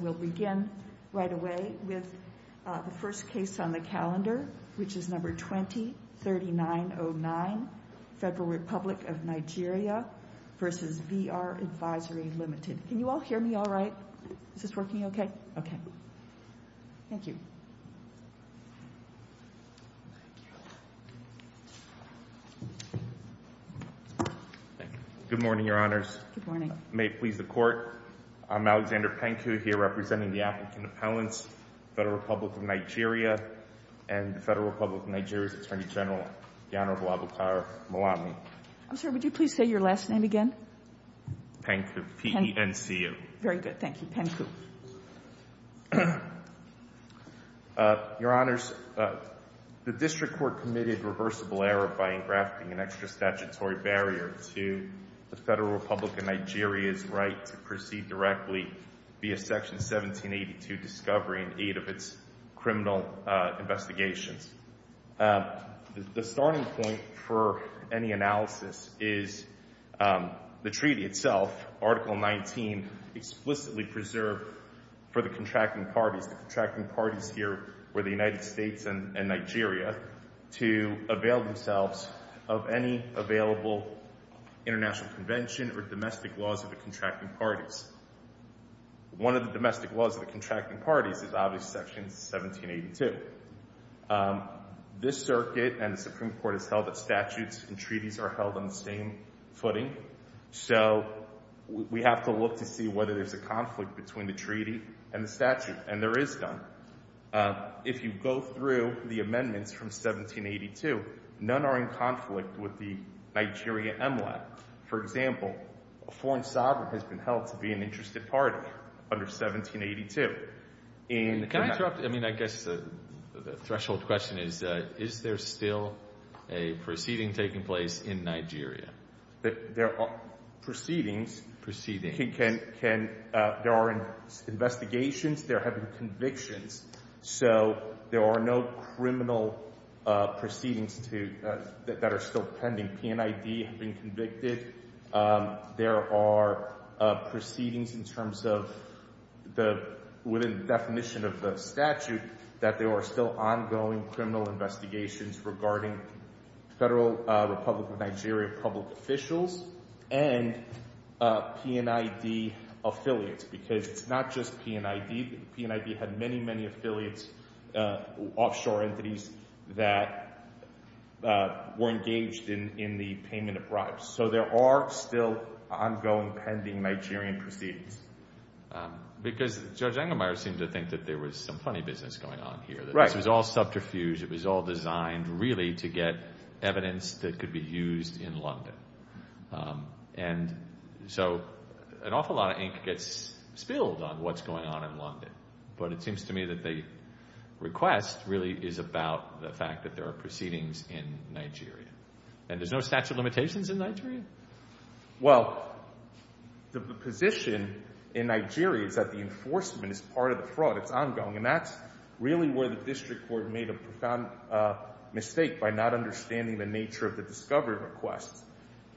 We'll begin right away with the first case on the calendar, which is number 20-3909, Federal Republic of Nigeria v. VR Advisory, Ltd. Can you all hear me all right? Is this working okay? Okay. Thank you. Thank you. Good morning, Your Honors. Good morning. May it please the Court. I'm Alexander Penku here representing the applicant appellants, Federal Republic of Nigeria, and the Federal Republic of Nigeria's Attorney General, the Honorable Abolkar Malami. I'm sorry. Would you please say your last name again? Penku. P-E-N-C-U. Very good. Thank you. Penku. Your Honors, the District Court committed reversible error by engrafting an extra statutory barrier to the Federal Republic of Nigeria's right to proceed directly via Section 1782, discovery and aid of its criminal investigations. The starting point for any analysis is the treaty itself, Article 19, explicitly preserved for the contracting parties. The contracting parties here were the United States and Nigeria to avail themselves of any available international convention or domestic laws of the contracting parties. One of the domestic laws of the contracting parties is obviously Section 1782. This circuit and the Supreme Court has held that statutes and treaties are held on the same footing, so we have to look to see whether there's a conflict between the treaty and the statute, and there is none. If you go through the amendments from 1782, none are in conflict with the Nigeria MLA. For example, a foreign sovereign has been held to be an interested party under 1782. And— Can I interrupt? I mean, I guess the threshold question is, is there still a proceeding taking place in Nigeria? There are proceedings. Proceedings. I mean, there are investigations. There have been convictions. So there are no criminal proceedings that are still pending. PNID have been convicted. There are proceedings in terms of the—within the definition of the statute that there are still ongoing criminal investigations regarding Federal Republic of Nigeria public officials and PNID affiliates, because it's not just PNID. PNID had many, many affiliates, offshore entities, that were engaged in the payment of bribes. So there are still ongoing pending Nigerian proceedings. Because Judge Engelmeyer seemed to think that there was some funny business going on here. Right. That this was all subterfuge. It was all designed really to get evidence that could be used in London. And so an awful lot of ink gets spilled on what's going on in London. But it seems to me that the request really is about the fact that there are proceedings in Nigeria. And there's no statute of limitations in Nigeria? Well, the position in Nigeria is that the enforcement is part of the fraud. It's ongoing. And that's really where the district court made a profound mistake by not understanding the nature of the discovery requests.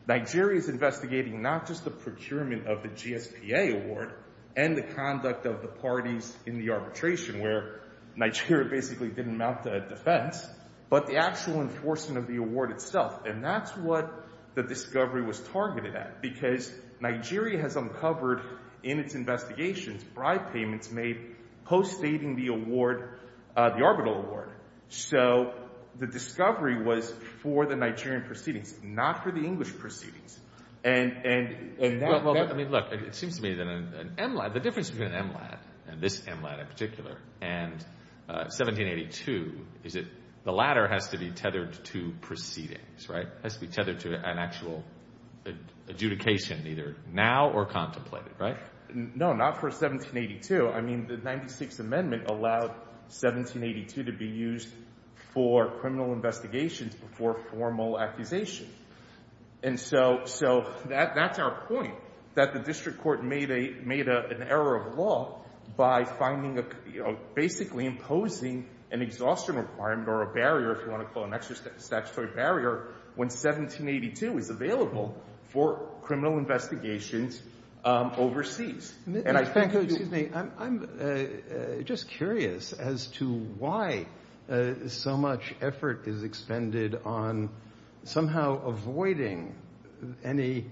Nigeria's investigating not just the procurement of the GSPA award and the conduct of the parties in the arbitration, where Nigeria basically didn't mount a defense, but the actual enforcement of the award itself. And that's what the discovery was targeted at. Because Nigeria has uncovered in its investigations bribe payments made post-stating the award, the arbitral award. So the discovery was for the Nigerian proceedings, not for the English proceedings. And that... Well, I mean, look, it seems to me that an MLAT, the difference between an MLAT, and this MLAT in particular, and 1782, is that the latter has to be tethered to proceedings, right? And there's no adjudication, either now or contemplated, right? No, not for 1782. I mean, the 96th Amendment allowed 1782 to be used for criminal investigations before formal accusation. And so that's our point, that the district court made an error of law by basically imposing an exhaustion requirement or a barrier, if you want to call it an extra statutory barrier, when 1782 is available for criminal investigations overseas. And I think... Thank you. Excuse me. I'm just curious as to why so much effort is expended on somehow avoiding any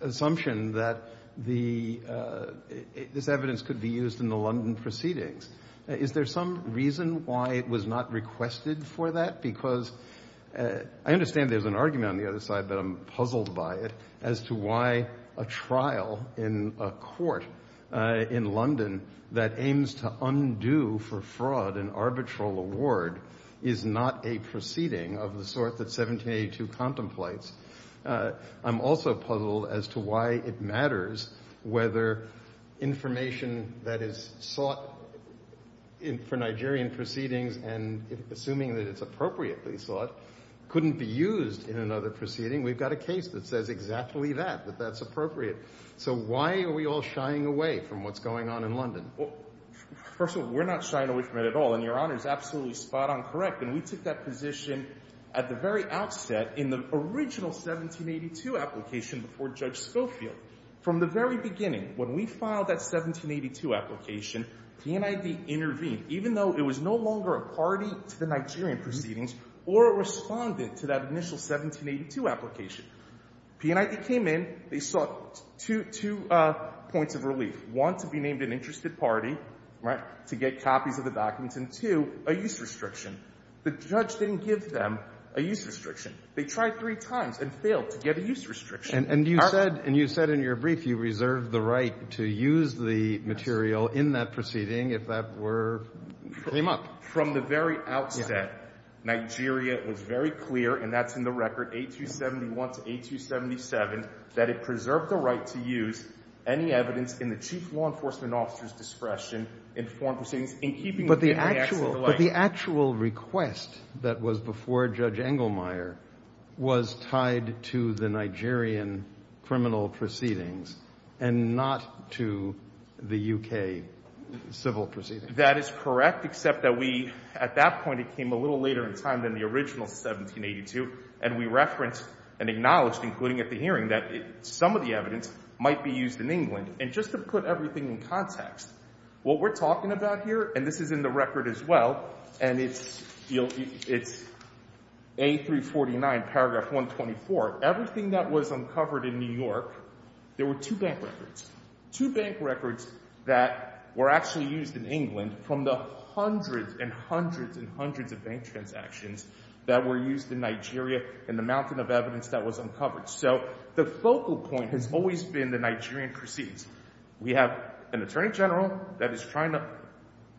assumption that this evidence could be used in the London proceedings. Is there some reason why it was not requested for that? Because I understand there's an argument on the other side, but I'm puzzled by it as to why a trial in a court in London that aims to undo for fraud an arbitral award is not a proceeding of the sort that 1782 contemplates. I'm also puzzled as to why it matters whether information that is sought for Nigerian proceedings, and assuming that it's appropriately sought, couldn't be used in another proceeding. We've got a case that says exactly that, that that's appropriate. So why are we all shying away from what's going on in London? Well, first of all, we're not shying away from it at all, and Your Honor is absolutely spot on correct. And we took that position at the very outset in the original 1782 application before Judge Schofield. From the very beginning, when we filed that 1782 application, P&ID intervened, even though it was no longer a party to the Nigerian proceedings, or it responded to that initial 1782 application. P&ID came in, they sought two points of relief, one, to be named an interested party, right, to get copies of the documents, and, two, a use restriction. The judge didn't give them a use restriction. They tried three times and failed to get a use restriction. And you said in your brief you reserved the right to use the material in that proceeding if that were came up. From the very outset, Nigeria was very clear, and that's in the record, A271 to A277, that it preserved the right to use any evidence in the Chief Law Enforcement Officer's discretion in foreign proceedings in keeping with the three acts of the like. But the actual request that was before Judge Engelmeyer was tied to the Nigerian criminal proceedings and not to the U.K. civil proceedings. That is correct, except that we, at that point, it came a little later in time than the original 1782, and we referenced and acknowledged, including at the hearing, that some of the evidence might be used in England. And just to put everything in context, what we're talking about here, and this is in the record as well, and it's A349, paragraph 124, everything that was uncovered in New York, there were two bank records. Two bank records that were actually used in England from the hundreds and hundreds and hundreds of bank transactions that were used in Nigeria in the mountain of evidence that was uncovered. So the focal point has always been the Nigerian proceedings. We have an attorney general that is trying to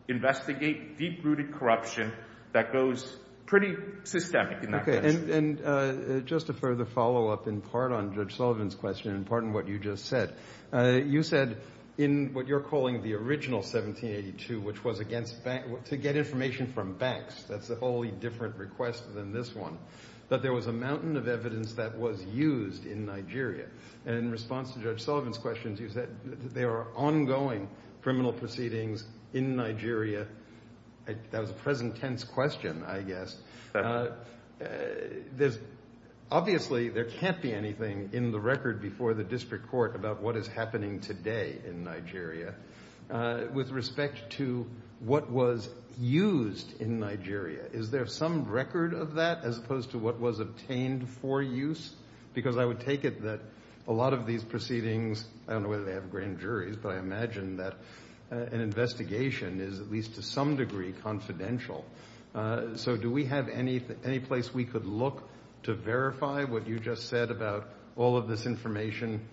investigate deep-rooted corruption that goes pretty systemic in that direction. And just a further follow-up, in part on Judge Sullivan's question, in part on what you just said. You said, in what you're calling the original 1782, which was against, to get information from banks, that's a wholly different request than this one, that there was a mountain of evidence that was used in Nigeria. And in response to Judge Sullivan's questions, you said that there are ongoing criminal proceedings in Nigeria. That was a present-tense question, I guess. Obviously, there can't be anything in the record before the district court about what is happening today in Nigeria. With respect to what was used in Nigeria, is there some record of that as opposed to what was obtained for use? Because I would take it that a lot of these proceedings, I don't know whether they have grand juries, but I imagine that an investigation is, at least to some degree, confidential. So do we have any place we could look to verify what you just said about all of this information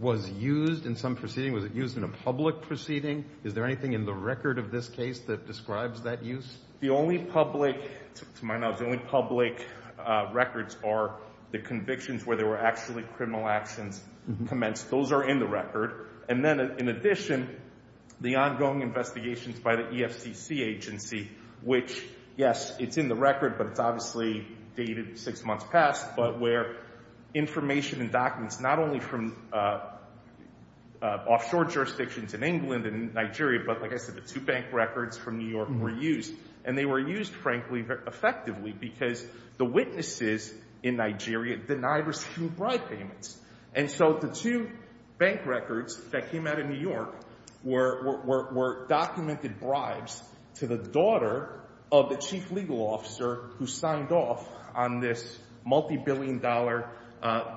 was used in some proceeding? Was it used in a public proceeding? Is there anything in the record of this case that describes that use? The only public, to my knowledge, the only public records are the convictions where there were actually criminal actions commenced. Those are in the record. And then, in addition, the ongoing investigations by the EFCC agency, which, yes, it's in the record, but it's obviously dated six months past, but where information and documents not only from offshore jurisdictions in England and Nigeria, but like I said, the two bank records from New York were used. And they were used, frankly, effectively, because the witnesses in Nigeria denied receiving bribe payments. And so the two bank records that came out of New York were documented bribes to the daughter of the chief legal officer who signed off on this multibillion dollar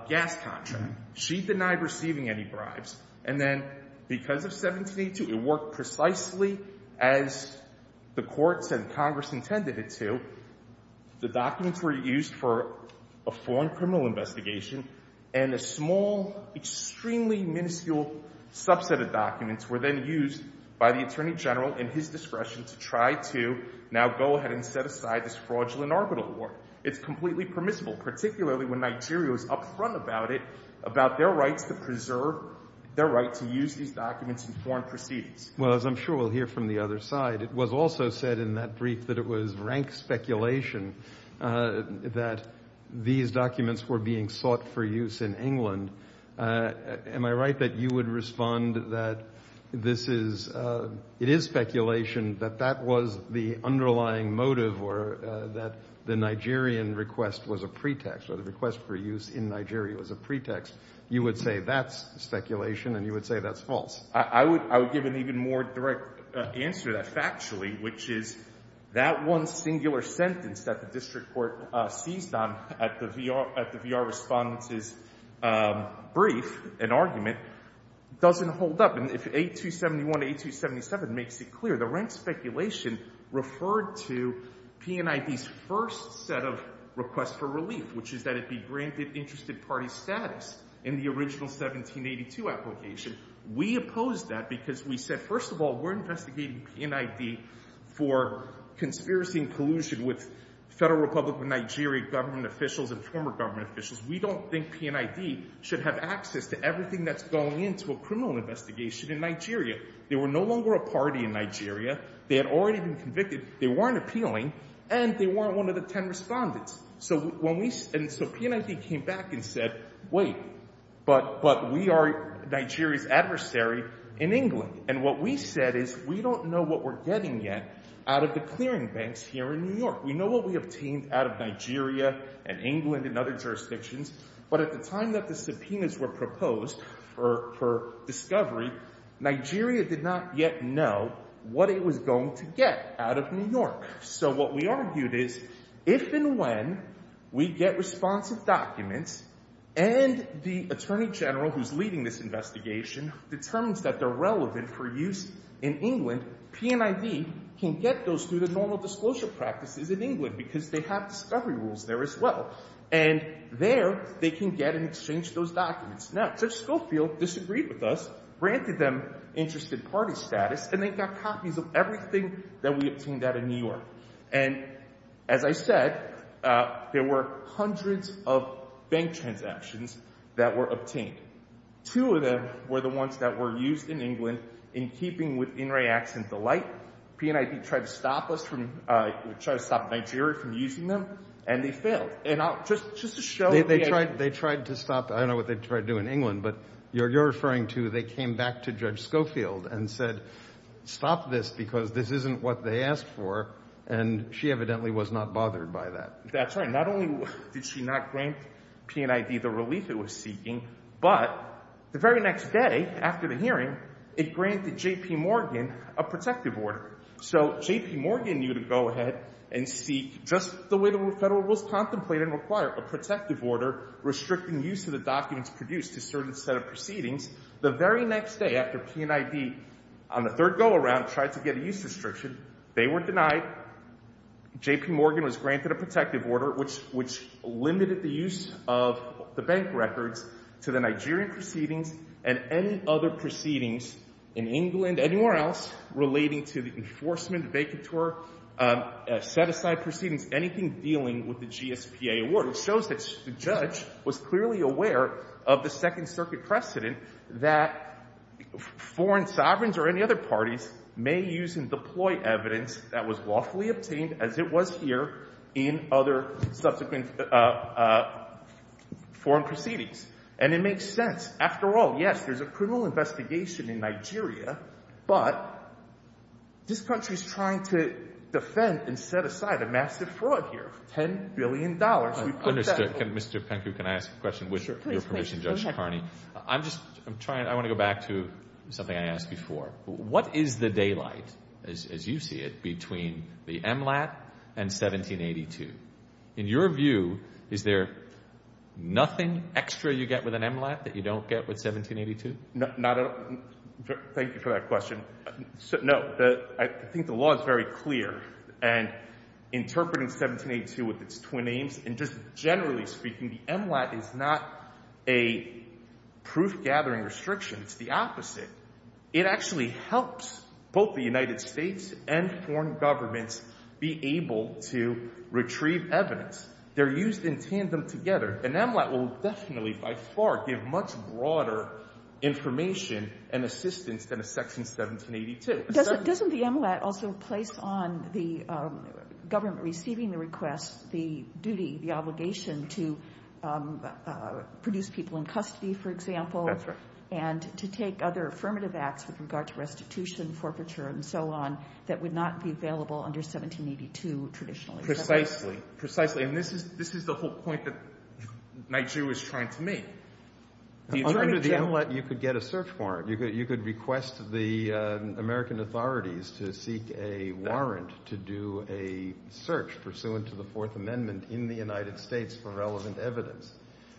gas contract. She denied receiving any bribes. And then, because of 1782, it worked precisely as the courts and Congress intended it to. The documents were used for a foreign criminal investigation, and a small, extremely minuscule subset of documents were then used by the attorney general in his discretion to try to now go ahead and set aside this fraudulent arbitral award. It's completely permissible, particularly when Nigeria was upfront about it, about their rights to preserve their right to use these documents in foreign proceedings. Well, as I'm sure we'll hear from the other side, it was also said in that brief that it was rank speculation that these documents were being sought for use in England. Am I right that you would respond that this is, it is speculation that that was the underlying motive or that the Nigerian request was a pretext, or the request for use in Nigeria was a pretext? You would say that's speculation, and you would say that's false. I would give an even more direct answer to that factually, which is that one singular sentence that the district court seized on at the VR Respondent's brief, an argument, doesn't hold up. And if 8271 to 8277 makes it clear, the rank speculation referred to PNID's first set of requests for relief, which is that it be granted interested party status in the original 1782 application. We opposed that because we said, first of all, we're investigating PNID for conspiracy and collusion with Federal Republic of Nigeria government officials and former government officials. We don't think PNID should have access to everything that's going into a criminal investigation in Nigeria. They were no longer a party in Nigeria. They had already been convicted. They weren't appealing, and they weren't one of the 10 respondents. So PNID came back and said, wait, but we are Nigeria's adversary in England. And what we said is, we don't know what we're getting yet out of the clearing banks here in New York. We know what we obtained out of Nigeria and England and other jurisdictions. But at the time that the subpoenas were proposed for discovery, Nigeria did not yet know what it was going to get out of New York. So what we argued is, if and when we get responsive documents and the attorney general who's leading this investigation determines that they're relevant for use in England, PNID can get those through the normal disclosure practices in England because they have discovery rules there as well. And there, they can get and exchange those documents. Now Judge Schofield disagreed with us, granted them interested party status, and they got copies of everything that we obtained out of New York. And as I said, there were hundreds of bank transactions that were obtained. Two of them were the ones that were used in England in keeping with In Reacts and Delight. PNID tried to stop us from, tried to stop Nigeria from using them, and they failed. And I'll just, just to show the reaction. They tried to stop, I don't know what they tried to do in England, but you're referring to they came back to Judge Schofield and said, stop this because this isn't what they asked for, and she evidently was not bothered by that. That's right. Not only did she not grant PNID the relief it was seeking, but the very next day after the hearing, it granted J.P. Morgan a protective order. So J.P. Morgan knew to go ahead and seek, just the way the Federal Rules contemplate and require, a protective order restricting use of the documents produced to certain set of proceedings. The very next day after PNID, on the third go around, tried to get a use restriction, they were denied. J.P. Morgan was granted a protective order, which, which limited the use of the bank records to the Nigerian proceedings and any other proceedings in England, anywhere else relating to the enforcement, vacatur, set-aside proceedings, anything dealing with the GSPA award, which was clearly aware of the Second Circuit precedent that foreign sovereigns or any other parties may use and deploy evidence that was lawfully obtained, as it was here, in other subsequent foreign proceedings. And it makes sense. After all, yes, there's a criminal investigation in Nigeria, but this country is trying to defend and set aside a massive fraud here, $10 billion. I understood. Mr. Pencrew, can I ask a question, with your permission, Judge Kearney? I'm just, I'm trying, I want to go back to something I asked before. What is the daylight, as you see it, between the MLAT and 1782? In your view, is there nothing extra you get with an MLAT that you don't get with 1782? Not at all. Thank you for that question. No. I think the law is very clear, and interpreting 1782 with its twin names, and just generally speaking, the MLAT is not a proof-gathering restriction, it's the opposite. It actually helps both the United States and foreign governments be able to retrieve evidence. They're used in tandem together, and MLAT will definitely, by far, give much broader information and assistance than a section 1782. Doesn't the MLAT also place on the government receiving the request the duty, the obligation to produce people in custody, for example? That's right. And to take other affirmative acts with regard to restitution, forfeiture, and so on, that would not be available under 1782, traditionally? Precisely. Precisely. And this is the whole point that Nigeria was trying to make. Under the MLAT, you could get a search warrant. You could request the American authorities to seek a warrant to do a search pursuant to the Fourth Amendment in the United States for relevant evidence.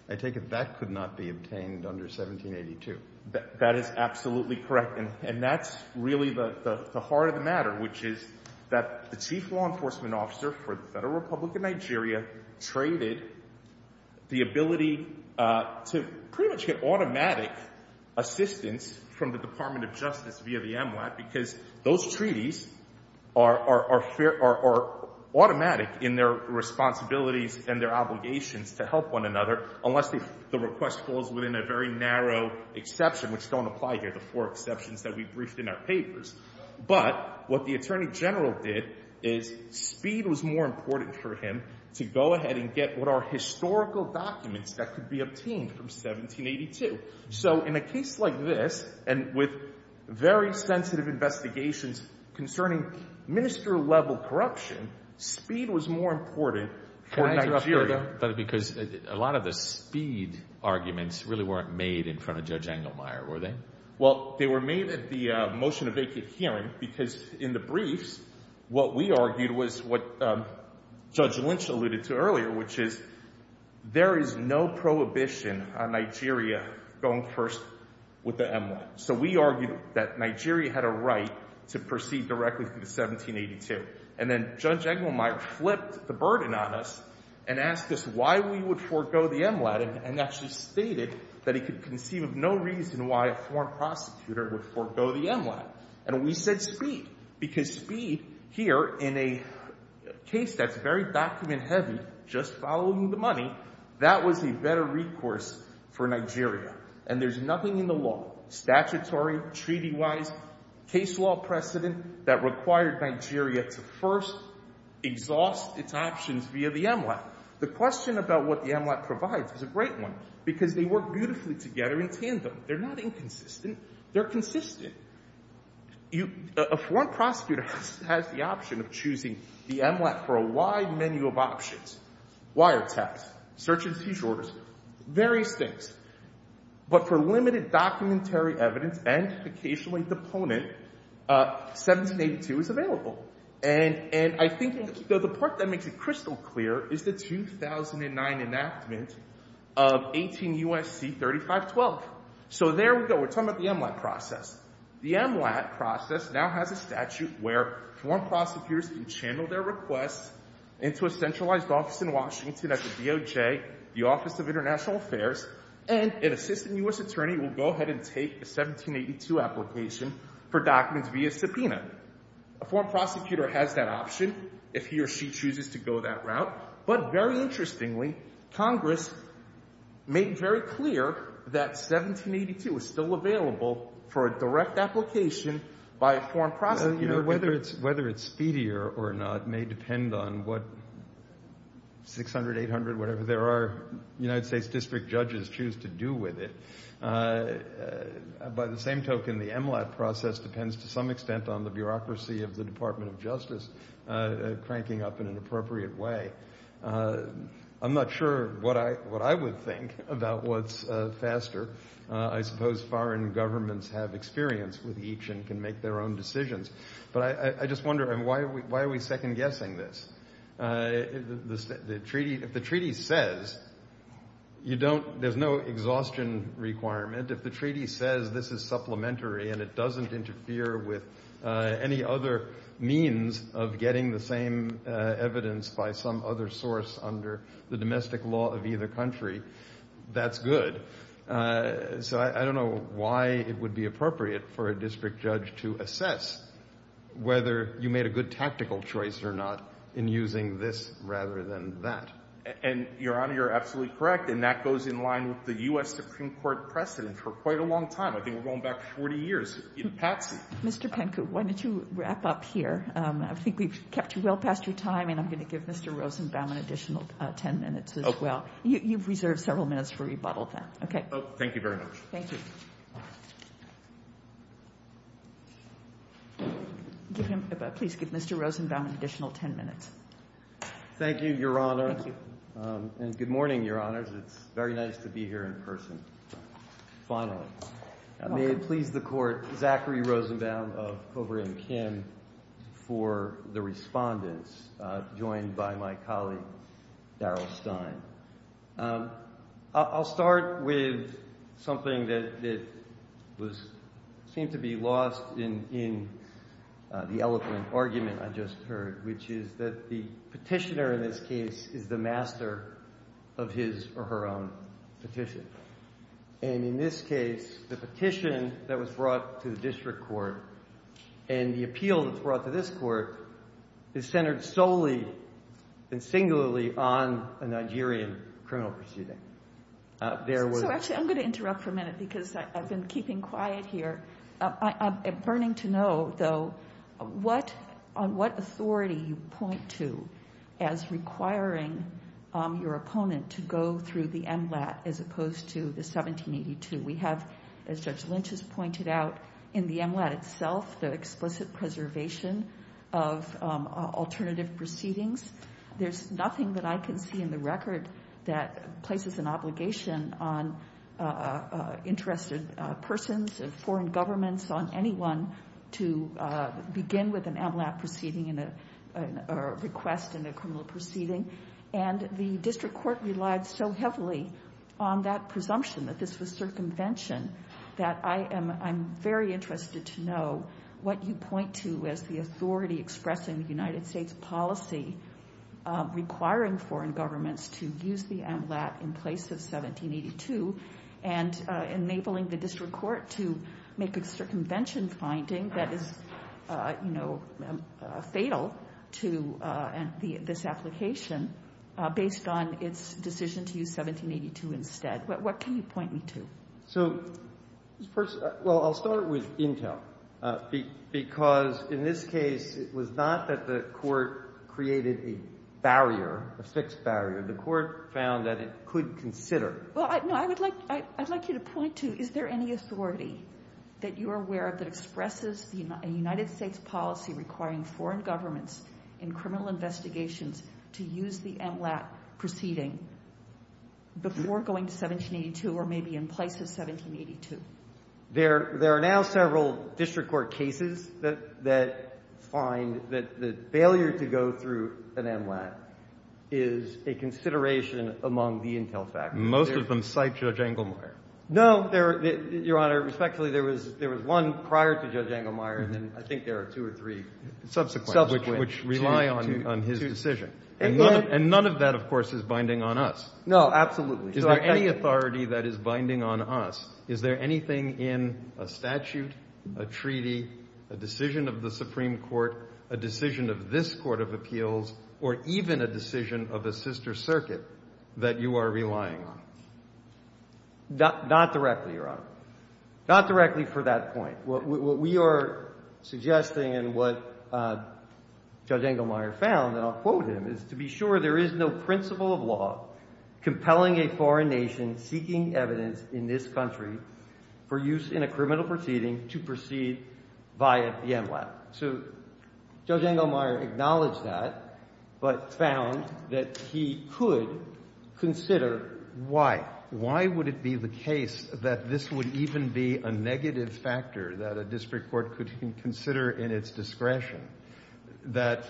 I take it that could not be obtained under 1782? That is absolutely correct, and that's really the heart of the matter, which is that the Chief Law Enforcement Officer for the Federal Republic of Nigeria traded the ability to pretty much get automatic assistance from the Department of Justice via the MLAT because those treaties are automatic in their responsibilities and their obligations to help one another unless the request falls within a very narrow exception, which don't apply here, the four exceptions that we briefed in our papers. But what the Attorney General did is speed was more important for him to go ahead and get what are historical documents that could be obtained from 1782. So in a case like this, and with very sensitive investigations concerning minister-level corruption, speed was more important for Nigeria. Can I interrupt you, though? Because a lot of the speed arguments really weren't made in front of Judge Engelmeyer, were they? Well, they were made at the motion of vacant hearing because in the briefs, what we argued was what Judge Lynch alluded to earlier, which is there is no prohibition on Nigeria going first with the MLAT. So we argued that Nigeria had a right to proceed directly through 1782. And then Judge Engelmeyer flipped the burden on us and asked us why we would forego the MLAT, and actually stated that he could conceive of no reason why a foreign prosecutor would forego the MLAT. And we said speed, because speed here in a case that's very document-heavy, just following the money, that was a better recourse for Nigeria. And there's nothing in the law, statutory, treaty-wise, case law precedent, that required Nigeria to first exhaust its options via the MLAT. The question about what the MLAT provides is a great one, because they work beautifully together in tandem. They're not inconsistent. They're consistent. A foreign prosecutor has the option of choosing the MLAT for a wide menu of options, wiretaps, search and seizure orders, various things. But for limited documentary evidence and occasionally deponent, 1782 is available. And I think the part that makes it crystal clear is the 2009 enactment of 18 U.S.C. 3512. So there we go. We're talking about the MLAT process. The MLAT process now has a statute where foreign prosecutors can channel their requests into a centralized office in Washington at the DOJ, the Office of International Affairs, and an assistant U.S. attorney will go ahead and take a 1782 application for documents via subpoena. A foreign prosecutor has that option if he or she chooses to go that route. But very interestingly, Congress made very clear that 1782 is still available for a direct application by a foreign prosecutor. You know, whether it's speedier or not may depend on what 600, 800, whatever there are. United States district judges choose to do with it. By the same token, the MLAT process depends to some extent on the bureaucracy of the Department of Justice cranking up in an appropriate way. I'm not sure what I would think about what's faster. I suppose foreign governments have experience with each and can make their own decisions. But I just wonder, why are we second-guessing this? If the treaty says you don't, there's no exhaustion requirement. If the treaty says this is supplementary and it doesn't interfere with any other means of getting the same evidence by some other source under the domestic law of either country, that's good. So, I don't know why it would be appropriate for a district judge to assess whether you made a good tactical choice or not in using this rather than that. And Your Honor, you're absolutely correct, and that goes in line with the U.S. Supreme Court precedent for quite a long time. I think we're going back 40 years in Patsy. Mr. Penku, why don't you wrap up here? I think we've kept you well past your time, and I'm going to give Mr. Rosenbaum an additional 10 minutes as well. Okay. You've reserved several minutes for rebuttal, then, okay? Thank you very much. Thank you. Please give Mr. Rosenbaum an additional 10 minutes. Thank you, Your Honor. Thank you. And good morning, Your Honors. It's very nice to be here in person. Finally, may it please the Court, Zachary Rosenbaum of Coburn and Kim for the respondents joined by my colleague, Darrell Stein. I'll start with something that seemed to be lost in the eloquent argument I just heard, which is that the petitioner, in this case, is the master of his or her own petition. And in this case, the petition that was brought to the district court and the appeal that's brought to this court is centered solely and singularly on a Nigerian criminal proceeding. So actually, I'm going to interrupt for a minute because I've been keeping quiet here. I'm burning to know, though, on what authority you point to as requiring your opponent to go through the MLAT as opposed to the 1782. We have, as Judge Lynch has pointed out, in the MLAT itself, the explicit preservation of alternative proceedings. There's nothing that I can see in the record that places an obligation on interested persons of foreign governments, on anyone, to begin with an MLAT proceeding or request in a criminal proceeding. And the district court relied so heavily on that presumption that this was circumvention that I'm very interested to know what you point to as the authority expressing the United States policy requiring foreign governments to use the MLAT in place of 1782 and enabling the district court to make a circumvention finding that is, you know, fatal to this application based on its decision to use 1782 instead. What can you point me to? So first, well, I'll start with Intel because in this case, it was not that the court created a barrier, a fixed barrier. The court found that it could consider. Well, no, I would like you to point to, is there any authority that you are aware of that expresses the United States policy requiring foreign governments in criminal investigations to use the MLAT proceeding before going to 1782 or maybe in place of 1782? There are now several district court cases that find that the failure to go through an MLAT is a consideration among the Intel faculty. Most of them cite Judge Engelmeyer. No, Your Honor, respectfully, there was one prior to Judge Engelmeyer and then I think there are two or three subsequent, which rely on his decision. And none of that, of course, is binding on us. No, absolutely. Is there any authority that is binding on us? Is there anything in a statute, a treaty, a decision of the Supreme Court, a decision of this Court of Appeals, or even a decision of a sister circuit that you are relying on? Not directly, Your Honor. Not directly for that point. What we are suggesting and what Judge Engelmeyer found, and I'll quote him, is to be sure there is no principle of law compelling a foreign nation seeking evidence in this country for use in a criminal proceeding to proceed via the MLAT. So Judge Engelmeyer acknowledged that, but found that he could consider why. Why would it be the case that this would even be a negative factor that a district court could consider in its discretion, that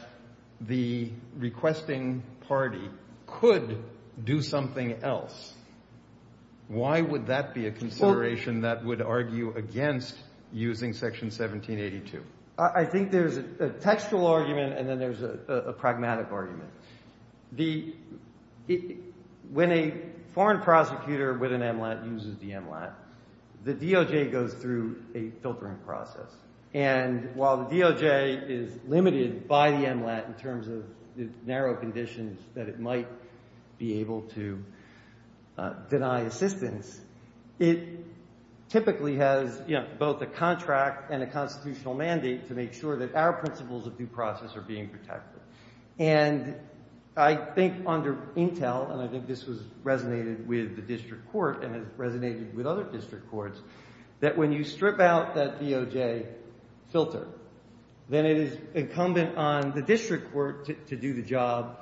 the requesting party could do something else? Why would that be a consideration that would argue against using Section 1782? I think there's a textual argument, and then there's a pragmatic argument. When a foreign prosecutor with an MLAT uses the MLAT, the DOJ goes through a filtering process. And while the DOJ is limited by the MLAT in terms of the narrow conditions that it might be able to deny assistance, it typically has both a contract and a constitutional mandate to make sure that our principles of due process are being protected. And I think under Intel, and I think this resonated with the district court and has resonated with other district courts, that when you strip out that DOJ filter, then it is incumbent on the district court to do the job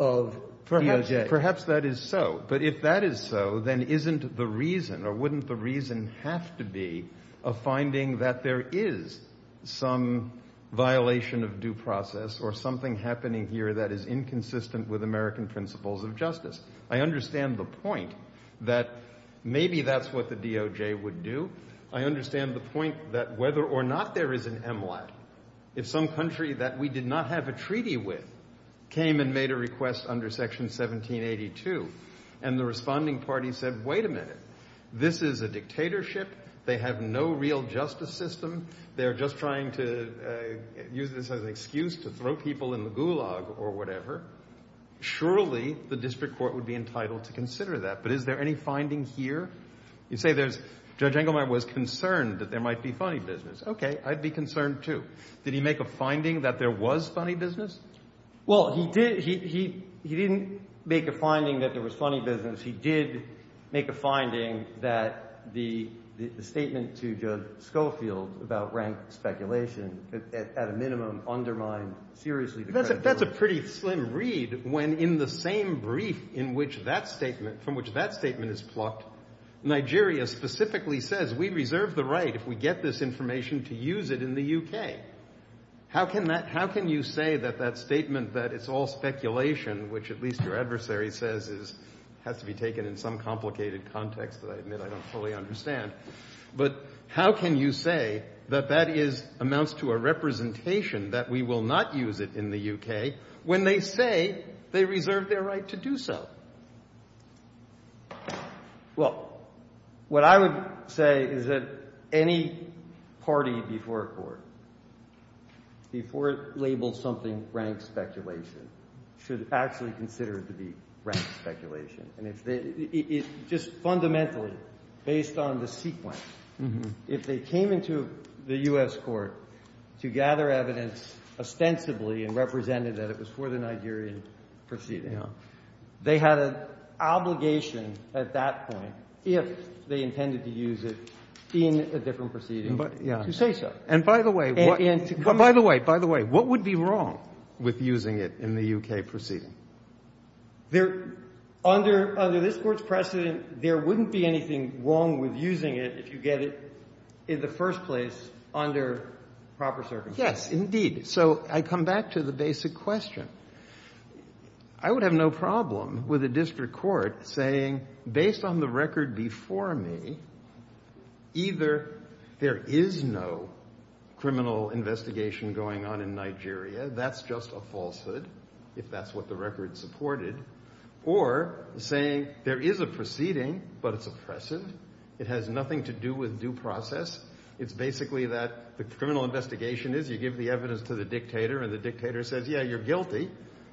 of DOJ. Perhaps that is so. But if that is so, then isn't the reason or wouldn't the reason have to be a finding that there is some violation of due process or something happening here that is inconsistent with American principles of justice? I understand the point that maybe that's what the DOJ would do. I understand the point that whether or not there is an MLAT, if some country that we did not have a treaty with came and made a request under Section 1782, and the responding party said, wait a minute, this is a dictatorship, they have no real justice system, they're just trying to use this as an excuse to throw people in the gulag or whatever, surely the district court would be entitled to consider that. But is there any finding here? You say there's, Judge Engelmeyer was concerned that there might be funny business. Okay, I'd be concerned too. Did he make a finding that there was funny business? Well, he didn't make a finding that there was funny business. He did make a finding that the statement to Judge Schofield about rank speculation at a minimum undermined seriously the credibility. That's a pretty slim read when in the same brief in which that statement, from which that statement is plucked, Nigeria specifically says we reserve the right if we get this information to use it in the UK. How can that, how can you say that that statement that it's all speculation, which at this point is going to be taken in some complicated context that I admit I don't fully understand, but how can you say that that is, amounts to a representation that we will not use it in the UK when they say they reserve their right to do so? Well, what I would say is that any party before a court, before it labels something rank speculation, should actually consider it to be rank speculation. And if they, just fundamentally based on the sequence, if they came into the U.S. court to gather evidence ostensibly and represented that it was for the Nigerian proceeding, they had an obligation at that point if they intended to use it in a different proceeding to say so. And by the way, by the way, what would be wrong with using it in the UK proceeding? There, under this court's precedent, there wouldn't be anything wrong with using it if you get it in the first place under proper circumstances. Yes, indeed. So I come back to the basic question. I would have no problem with a district court saying, based on the record before me, either there is no criminal investigation going on in Nigeria, that's just a falsehood, if that's what the record supported, or saying there is a proceeding, but it's oppressive. It has nothing to do with due process. It's basically that the criminal investigation is you give the evidence to the dictator and the dictator says, yeah, you're guilty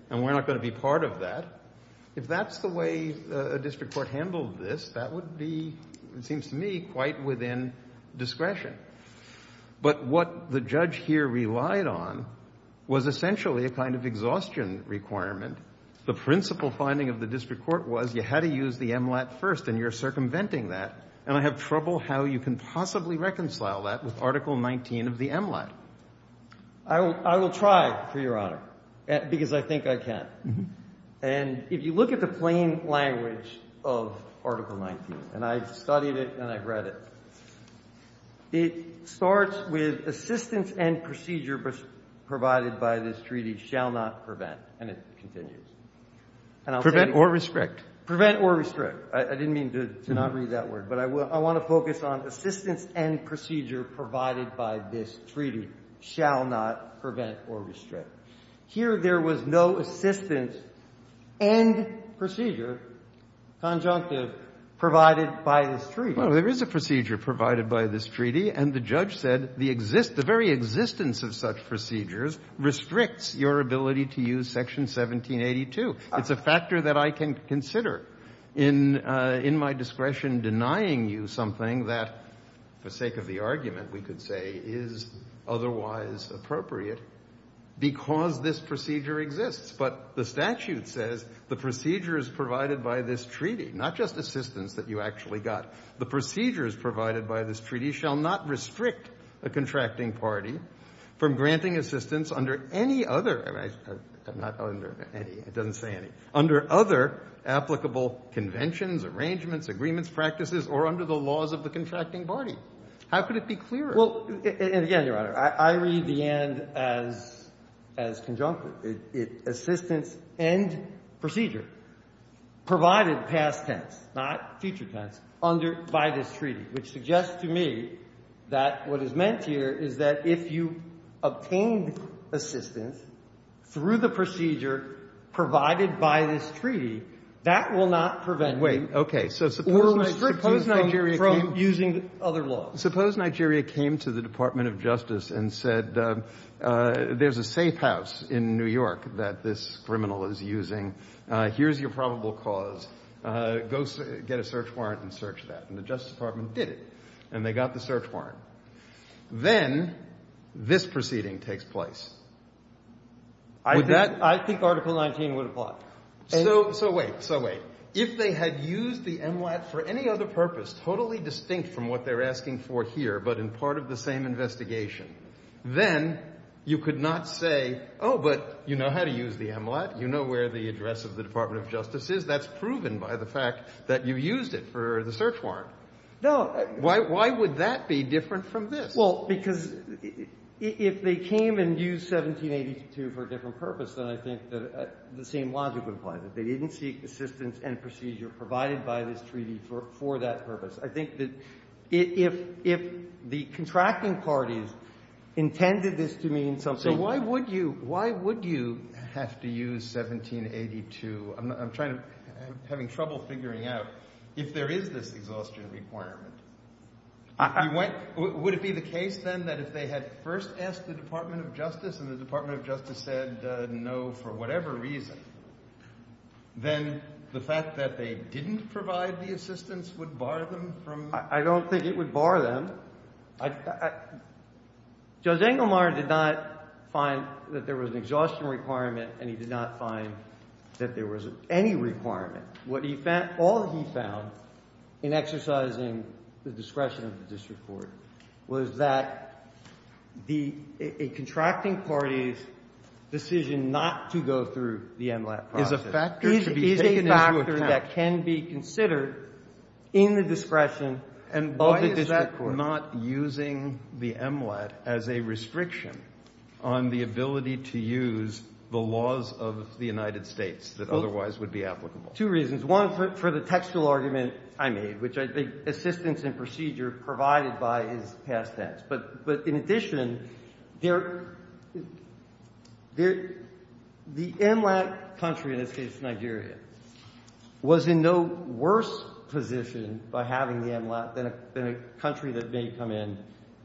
and we're not going to be part of that. If that's the way a district court handled this, that would be, it seems to me, quite within discretion. But what the judge here relied on was essentially a kind of exhaustion requirement. The principal finding of the district court was you had to use the MLAT first and you're circumventing that, and I have trouble how you can possibly reconcile that with Article 19 of the MLAT. I will try, Your Honor, because I think I can. And if you look at the plain language of Article 19, and I've studied it and I've read it, it starts with, assistance and procedure provided by this treaty shall not prevent. And it continues. And I'll tell you what to do. Prevent or restrict. Prevent or restrict. I didn't mean to not read that word, but I want to focus on assistance and procedure provided by this treaty shall not prevent or restrict. Well, there is a procedure provided by this treaty, and the judge said the very existence of such procedures restricts your ability to use Section 1782. It's a factor that I can consider in my discretion denying you something that, for sake of the argument, we could say is otherwise appropriate because this procedure exists. But the statute says the procedure is provided by this treaty, not just assistance that you actually got. The procedures provided by this treaty shall not restrict a contracting party from granting assistance under any other – I'm not under any, it doesn't say any – under other applicable conventions, arrangements, agreements, practices, or under the laws of the contracting party. How could it be clearer? Well, and again, Your Honor, I read the end as conjunct, assistance and procedure provided past tense, not future tense, under – by this treaty, which suggests to me that what is meant here is that if you obtained assistance through the procedure provided by this treaty, that will not prevent you or restrict you from using other laws. Suppose Nigeria came to the Department of Justice and said there's a safe house in the area, here's your probable cause, go get a search warrant and search that. And the Justice Department did it, and they got the search warrant. Then this proceeding takes place. Would that – I think Article 19 would apply. So wait, so wait. If they had used the MLAT for any other purpose, totally distinct from what they're asking for here, but in part of the same investigation, then you could not say, oh, but you know how to use the MLAT, you know where the address of the Department of Justice is. That's proven by the fact that you used it for the search warrant. No. Why would that be different from this? Well, because if they came and used 1782 for a different purpose, then I think the same logic would apply, that they didn't seek assistance and procedure provided by this treaty for that purpose. I think that if the contracting parties intended this to mean something – Why would you have to use 1782? I'm trying to – I'm having trouble figuring out if there is this exhaustion requirement. Would it be the case, then, that if they had first asked the Department of Justice and the Department of Justice said no for whatever reason, then the fact that they didn't provide the assistance would bar them from – I don't think it would bar them. I – Judge Engelmar did not find that there was an exhaustion requirement, and he did not find that there was any requirement. What he found – all he found in exercising the discretion of the district court was that the – a contracting party's decision not to go through the MLAT process is a factor that can be considered in the discretion of the district court. You are not using the MLAT as a restriction on the ability to use the laws of the United States that otherwise would be applicable. Two reasons. One, for the textual argument I made, which I think assistance and procedure provided by is past tense. But in addition, there – the MLAT country, in this case Nigeria, was in no worse position by having the MLAT than a country that may come in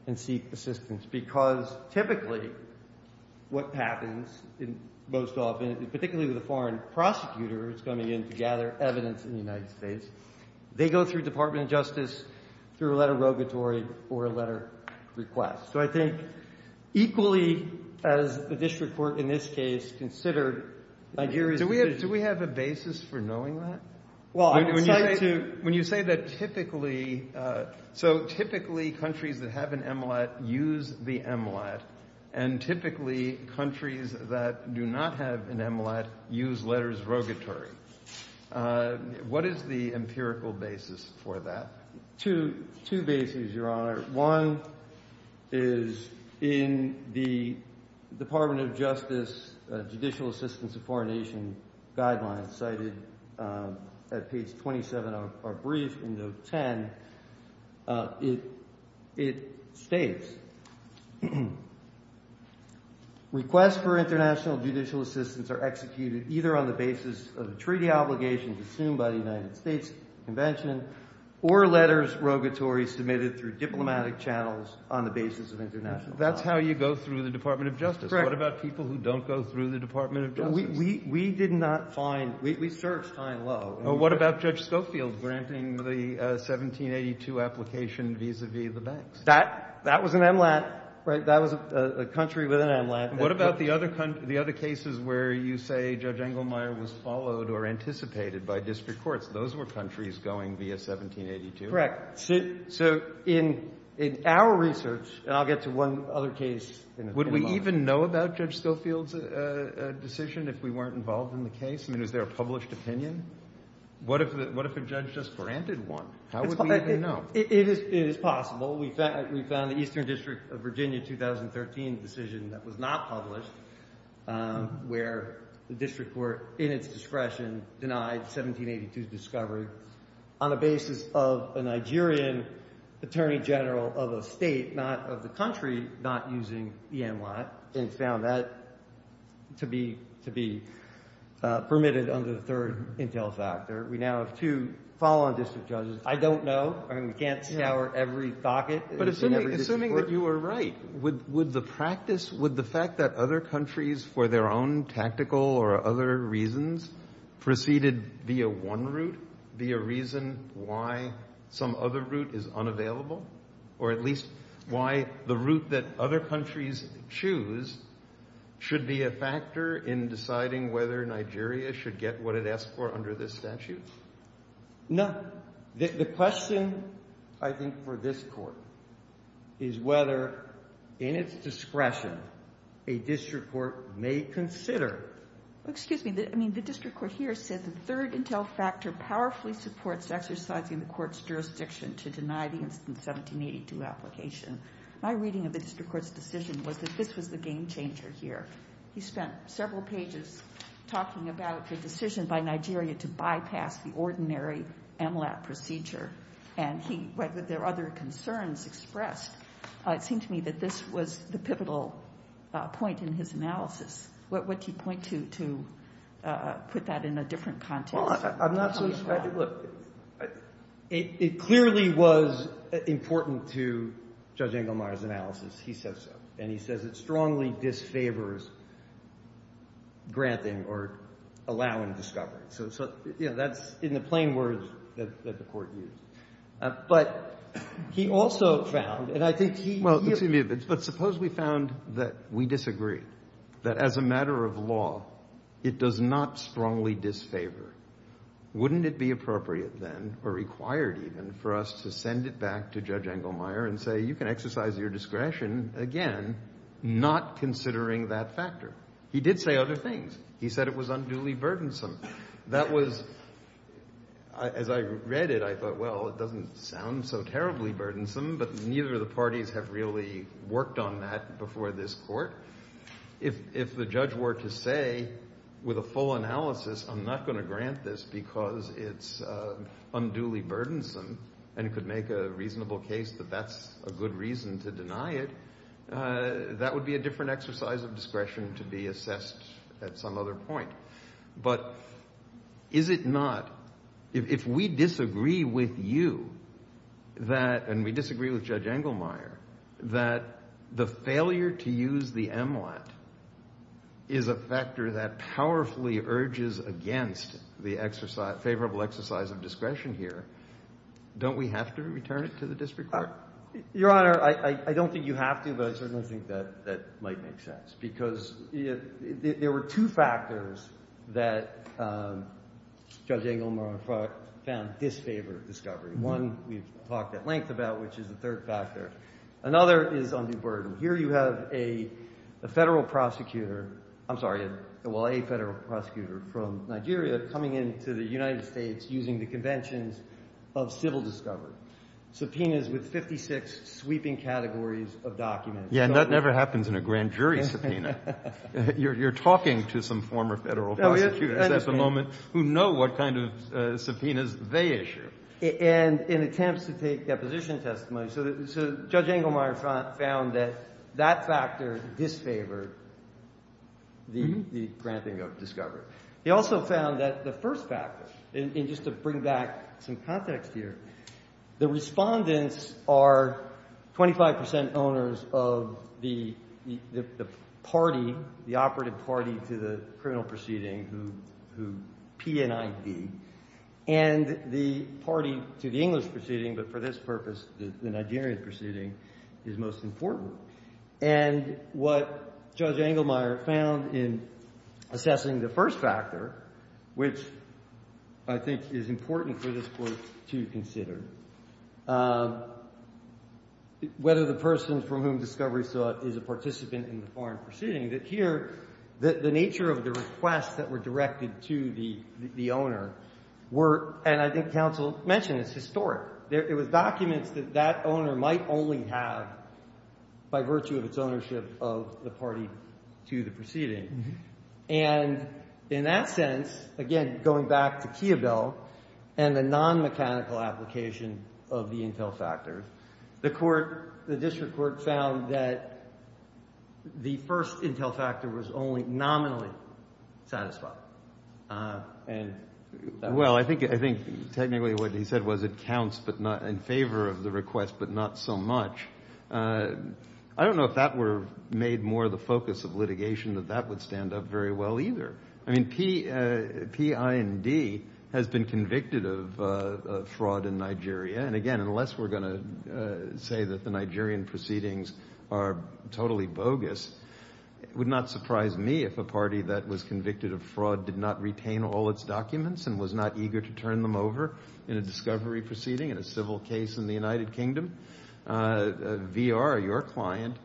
and seek assistance. Because typically what happens most often, particularly with a foreign prosecutor who's coming in to gather evidence in the United States, they go through the Department of Justice through a letter of rogatory or a letter of request. So I think equally as the district court in this case considered Nigeria's decision – Do we have a basis for knowing that? Well, I would like to – When you say that typically – so typically countries that have an MLAT use the MLAT. And typically countries that do not have an MLAT use letters of rogatory. What is the empirical basis for that? Two – two bases, Your Honor. One is in the Department of Justice Judicial Assistance of Foreign Nations guidelines cited at page 27 of our brief in note 10. It – it states, requests for international judicial assistance are executed either on the basis of the treaty obligations assumed by the United States Convention or letters rogatory submitted through diplomatic channels on the basis of international law. That's how you go through the Department of Justice. Correct. What about people who don't go through the Department of Justice? We did not find – we searched high and low. Well, what about Judge Schofield granting the 1782 application vis-a-vis the banks? That – that was an MLAT, right? That was a country with an MLAT. What about the other – the other cases where you say Judge Engelmeyer was followed or anticipated by district courts? Those were countries going via 1782? Correct. Would we even know about Judge Schofield's decision if we weren't involved in the case? I mean, is there a published opinion? What if – what if a judge just granted one? How would we even know? It is – it is possible. We found – we found the Eastern District of Virginia 2013 decision that was not published where the district court in its discretion denied 1782's discovery on the basis of MLAT and found that to be – to be permitted under the third intel factor. We now have two follow-on district judges. I don't know. I mean, we can't scour every docket in every district court. Assuming that you are right, would the practice – would the fact that other countries for their own tactical or other reasons proceeded via one route, via reason why some other route is unavailable, or at least why the route that other countries choose should be a factor in deciding whether Nigeria should get what it asked for under this statute? No. The question, I think, for this Court is whether, in its discretion, a district court may consider Excuse me. I mean, the district court here says the third intel factor powerfully supports exercising the Court's jurisdiction to deny the instance 1782 application. My reading of the district court's decision was that this was the game changer here. He spent several pages talking about the decision by Nigeria to bypass the ordinary MLAT procedure, and he – whether there are other concerns expressed. It seemed to me that this was the pivotal point in his analysis. What would he point to to put that in a different context? I'm not so sure. Look, it clearly was important to Judge Engelmeyer's analysis. He said so. And he says it strongly disfavors granting or allowing discovery. So, you know, that's in the plain words that the Court used. But he also found, and I think he Well, excuse me, but suppose we found that we disagree, that as a matter of law, it does not strongly disfavor. Wouldn't it be appropriate then, or required even, for us to send it back to Judge Engelmeyer and say, you can exercise your discretion, again, not considering that factor? He did say other things. He said it was unduly burdensome. That was – as I read it, I thought, well, it doesn't sound so terribly burdensome, but neither of the parties have really worked on that before this Court. If the judge were to say, with a full analysis, I'm not going to grant this because it's unduly burdensome, and it could make a reasonable case that that's a good reason to deny it, that would be a different exercise of discretion to be assessed at some other point. But is it not – if we disagree with you, and we disagree with Judge Engelmeyer, that the failure to use the MLAT is a factor that powerfully urges against the favorable exercise of discretion here, don't we have to return it to the district court? Your Honor, I don't think you have to, but I certainly think that might make sense, because there were two factors that Judge Engelmeyer, in fact, found disfavored discovery. One we've talked at length about, which is the third factor. Another is undue burden. Here you have a federal prosecutor – I'm sorry, well, a federal prosecutor from Nigeria coming into the United States using the conventions of civil discovery, subpoenas with 56 sweeping categories of documents. Yeah, and that never happens in a grand jury subpoena. You're talking to some former federal prosecutors at the moment who know what kind of subpoenas they issue. And in attempts to take deposition testimony, so Judge Engelmeyer found that that factor disfavored the granting of discovery. He also found that the first factor, and just to bring back some context here, the respondents are 25 percent owners of the party, the operative party to the criminal English proceeding, but for this purpose, the Nigerian proceeding is most important. And what Judge Engelmeyer found in assessing the first factor, which I think is important for this Court to consider, whether the person from whom discovery is a participant in the foreign proceeding, that here the nature of the requests that were directed to the owner were – and I think counsel mentioned this – historic. It was documents that that owner might only have by virtue of its ownership of the party to the proceeding. And in that sense, again, going back to Kiobel and the non-mechanical application of the intel factor, the court, the district court found that the first intel factor was only nominally satisfied. Ah. Well, I think technically what he said was it counts in favor of the request, but not so much. I don't know if that were made more the focus of litigation, that that would stand up very well either. I mean, PIND has been convicted of fraud in Nigeria, and again, unless we're going to say that the Nigerian proceedings are totally bogus, it would not surprise me if a party that was convicted of fraud did not retain all its documents and was not eager to turn them over in a discovery proceeding in a civil case in the United Kingdom. VR, your client,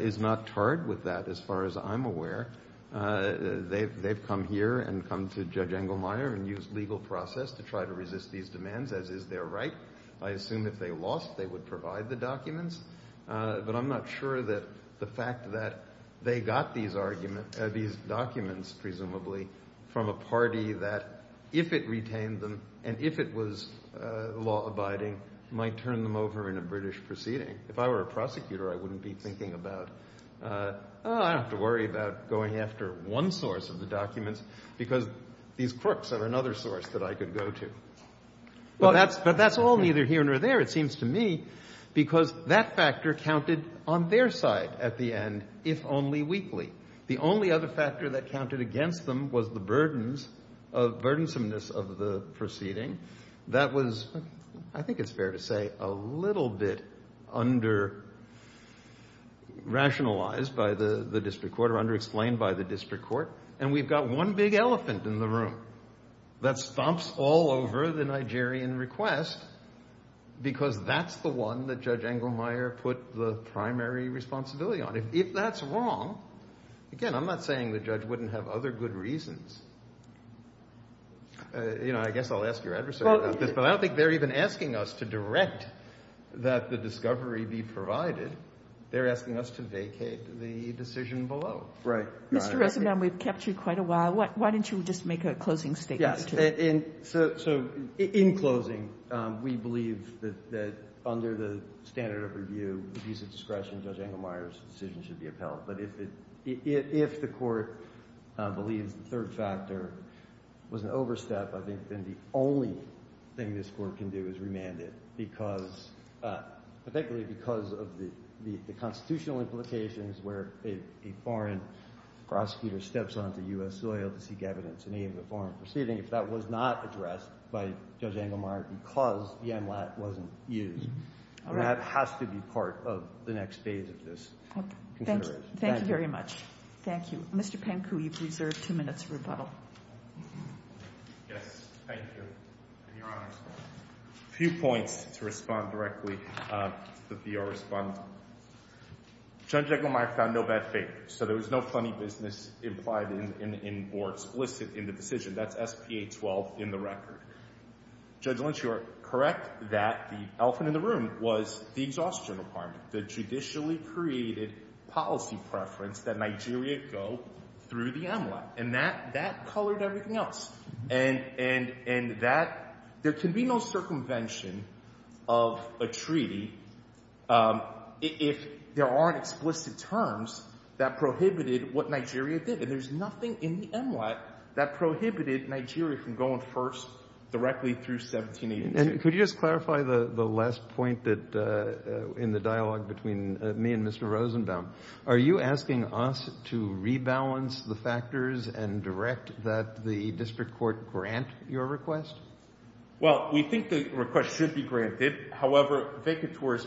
is not tarred with that, as far as I'm aware. They've come here and come to Judge Engelmeyer and used legal process to try to resist these demands, as is their right. But I'm not sure that the fact that they got these documents, presumably, from a party that, if it retained them and if it was law-abiding, might turn them over in a British proceeding. If I were a prosecutor, I wouldn't be thinking about, oh, I don't have to worry about going after one source of the documents because these crooks are another source that I could go to. But that's all neither here nor there, it seems to me, because that factor counted on their side at the end, if only weakly. The only other factor that counted against them was the burdens of burdensomeness of the proceeding. That was, I think it's fair to say, a little bit under-rationalized by the district court or under-explained by the district court. And we've got one big elephant in the room that stomps all over the Nigerian request because that's the one that Judge Engelmeyer put the primary responsibility on. If that's wrong, again, I'm not saying the judge wouldn't have other good reasons. You know, I guess I'll ask your adversary about this, but I don't think they're even asking us to direct that the discovery be provided. They're asking us to vacate the decision below. Right. Mr. Rosenbaum, we've kept you quite a while. Why don't you just make a closing statement? So in closing, we believe that under the standard of review, with use of discretion, Judge Engelmeyer's decision should be upheld. But if the court believes the third factor was an overstep, I think then the only thing this court can do is remand it, particularly because of the constitutional implications where a foreign prosecutor steps onto U.S. soil to seek evidence in any of the foreign proceedings if that was not addressed by Judge Engelmeyer because the NLAT wasn't used. That has to be part of the next phase of this. Thank you very much. Thank you. Mr. Panku, you've reserved two minutes for rebuttal. Yes, thank you. A few points to respond directly to the VR respondent. Judge Engelmeyer found no bad faith. So there was no funny business implied in or explicit in the decision. That's SPA-12 in the record. Judge Lynch, you are correct that the elephant in the room was the Exhaustion Department, the judicially created policy preference that Nigeria go through the NLAT. And that colored everything else. And there can be no circumvention of a treaty if there aren't explicit terms that prohibited what Nigeria did. There's nothing in the NLAT that prohibited Nigeria from going first directly through 1782. And could you just clarify the last point in the dialogue between me and Mr. Rosenbaum? Are you asking us to rebalance the factors and direct that the district court grant your request? Well, we think the request should be granted. However, Vekator is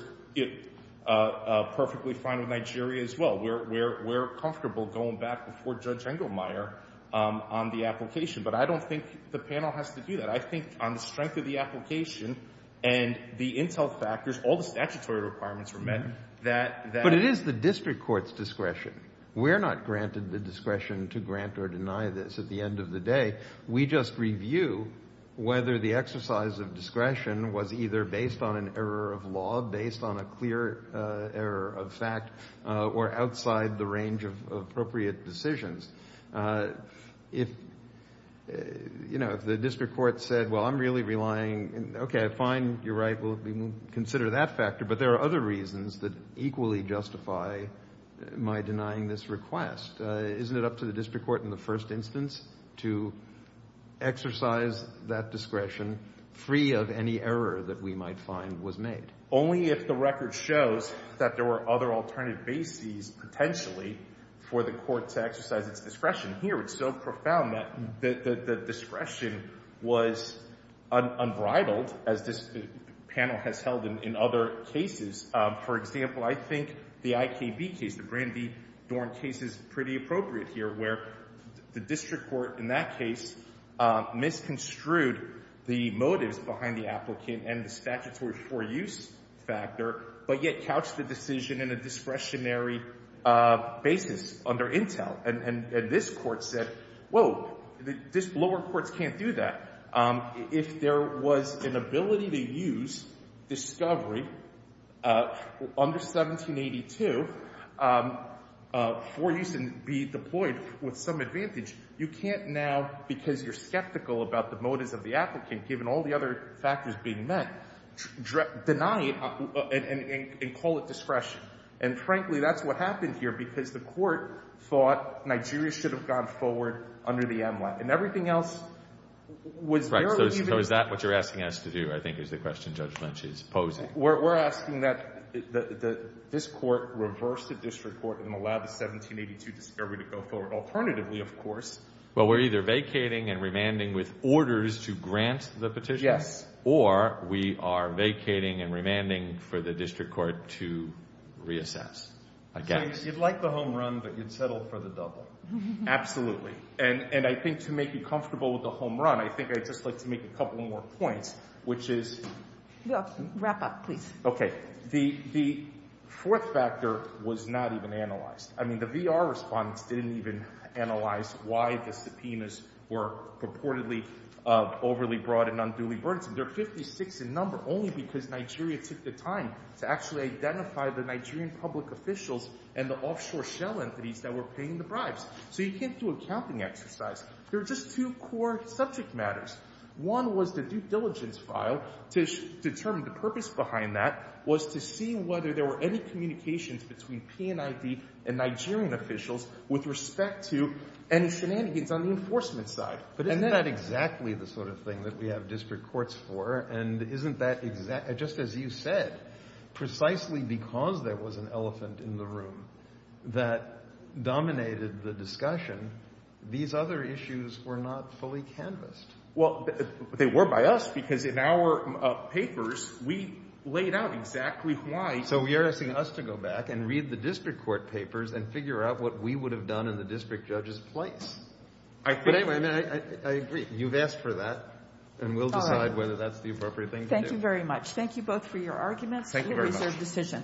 perfectly fine with Nigeria as well. We're comfortable going back before Judge Engelmeyer on the application. But I don't think the panel has to do that. I think on the strength of the application and the intel factors, all the statutory requirements were met. But it is the district court's discretion. We're not granted the discretion to grant or deny this at the end of the day. We just review whether the exercise of discretion was either based on an error of law, based on a clear error of fact, or outside the range of appropriate decisions. If, you know, if the district court said, well, I'm really relying, okay, fine, you're right, we'll consider that factor. But there are other reasons that equally justify my denying this request. Isn't it up to the district court in the first instance to exercise that discretion free of any error that we might find was made? Only if the record shows that there were other alternative bases potentially for the court to exercise its discretion. Here it's so profound that the discretion was unbridled, as this panel has held in other cases. For example, I think the IKB case, the Brandi Dorn case is pretty appropriate here, where the district court in that case misconstrued the motives behind the applicant and the statutory for use factor, but yet couched the decision in a discretionary basis under Intel. And this court said, whoa, lower courts can't do that. If there was an ability to use discovery under 1782 for use and be deployed with some advantage, you can't now, because you're skeptical about the motives of the applicant, given all the other factors being met, deny it and call it discretion. And frankly, that's what happened here, because the court thought Nigeria should have gone forward under the MLAC. And everything else was very— Right. So is that what you're asking us to do, I think, is the question Judge Lynch is posing? We're asking that this court reverse the district court and allow the 1782 discovery to go forward. Alternatively, of course— We're either vacating and remanding with orders to grant the petition— Yes. —or we are vacating and remanding for the district court to reassess. You'd like the home run, but you'd settle for the double. Absolutely. And I think to make you comfortable with the home run, I think I'd just like to make a couple more points, which is— Wrap up, please. Okay. The fourth factor was not even analyzed. I mean, the VR respondents didn't even analyze why the subpoenas were purportedly overly broad and unduly burdensome. They're 56 in number only because Nigeria took the time to actually identify the Nigerian public officials and the offshore shell entities that were paying the bribes. So you can't do a counting exercise. There are just two core subject matters. One was the due diligence file. To determine the purpose behind that was to see whether there were any communications between PNID and Nigerian officials with respect to any shenanigans on the enforcement side. But isn't that exactly the sort of thing that we have district courts for? And isn't that—just as you said, precisely because there was an elephant in the room that dominated the discussion, these other issues were not fully canvassed. Well, they were by us because in our papers, we laid out exactly why— We are asking us to go back and read the district court papers and figure out what we would have done in the district judge's place. But anyway, I agree. You've asked for that, and we'll decide whether that's the appropriate thing to do. All right. Thank you very much. Thank you both for your arguments. Thank you very much. It was a reserved decision.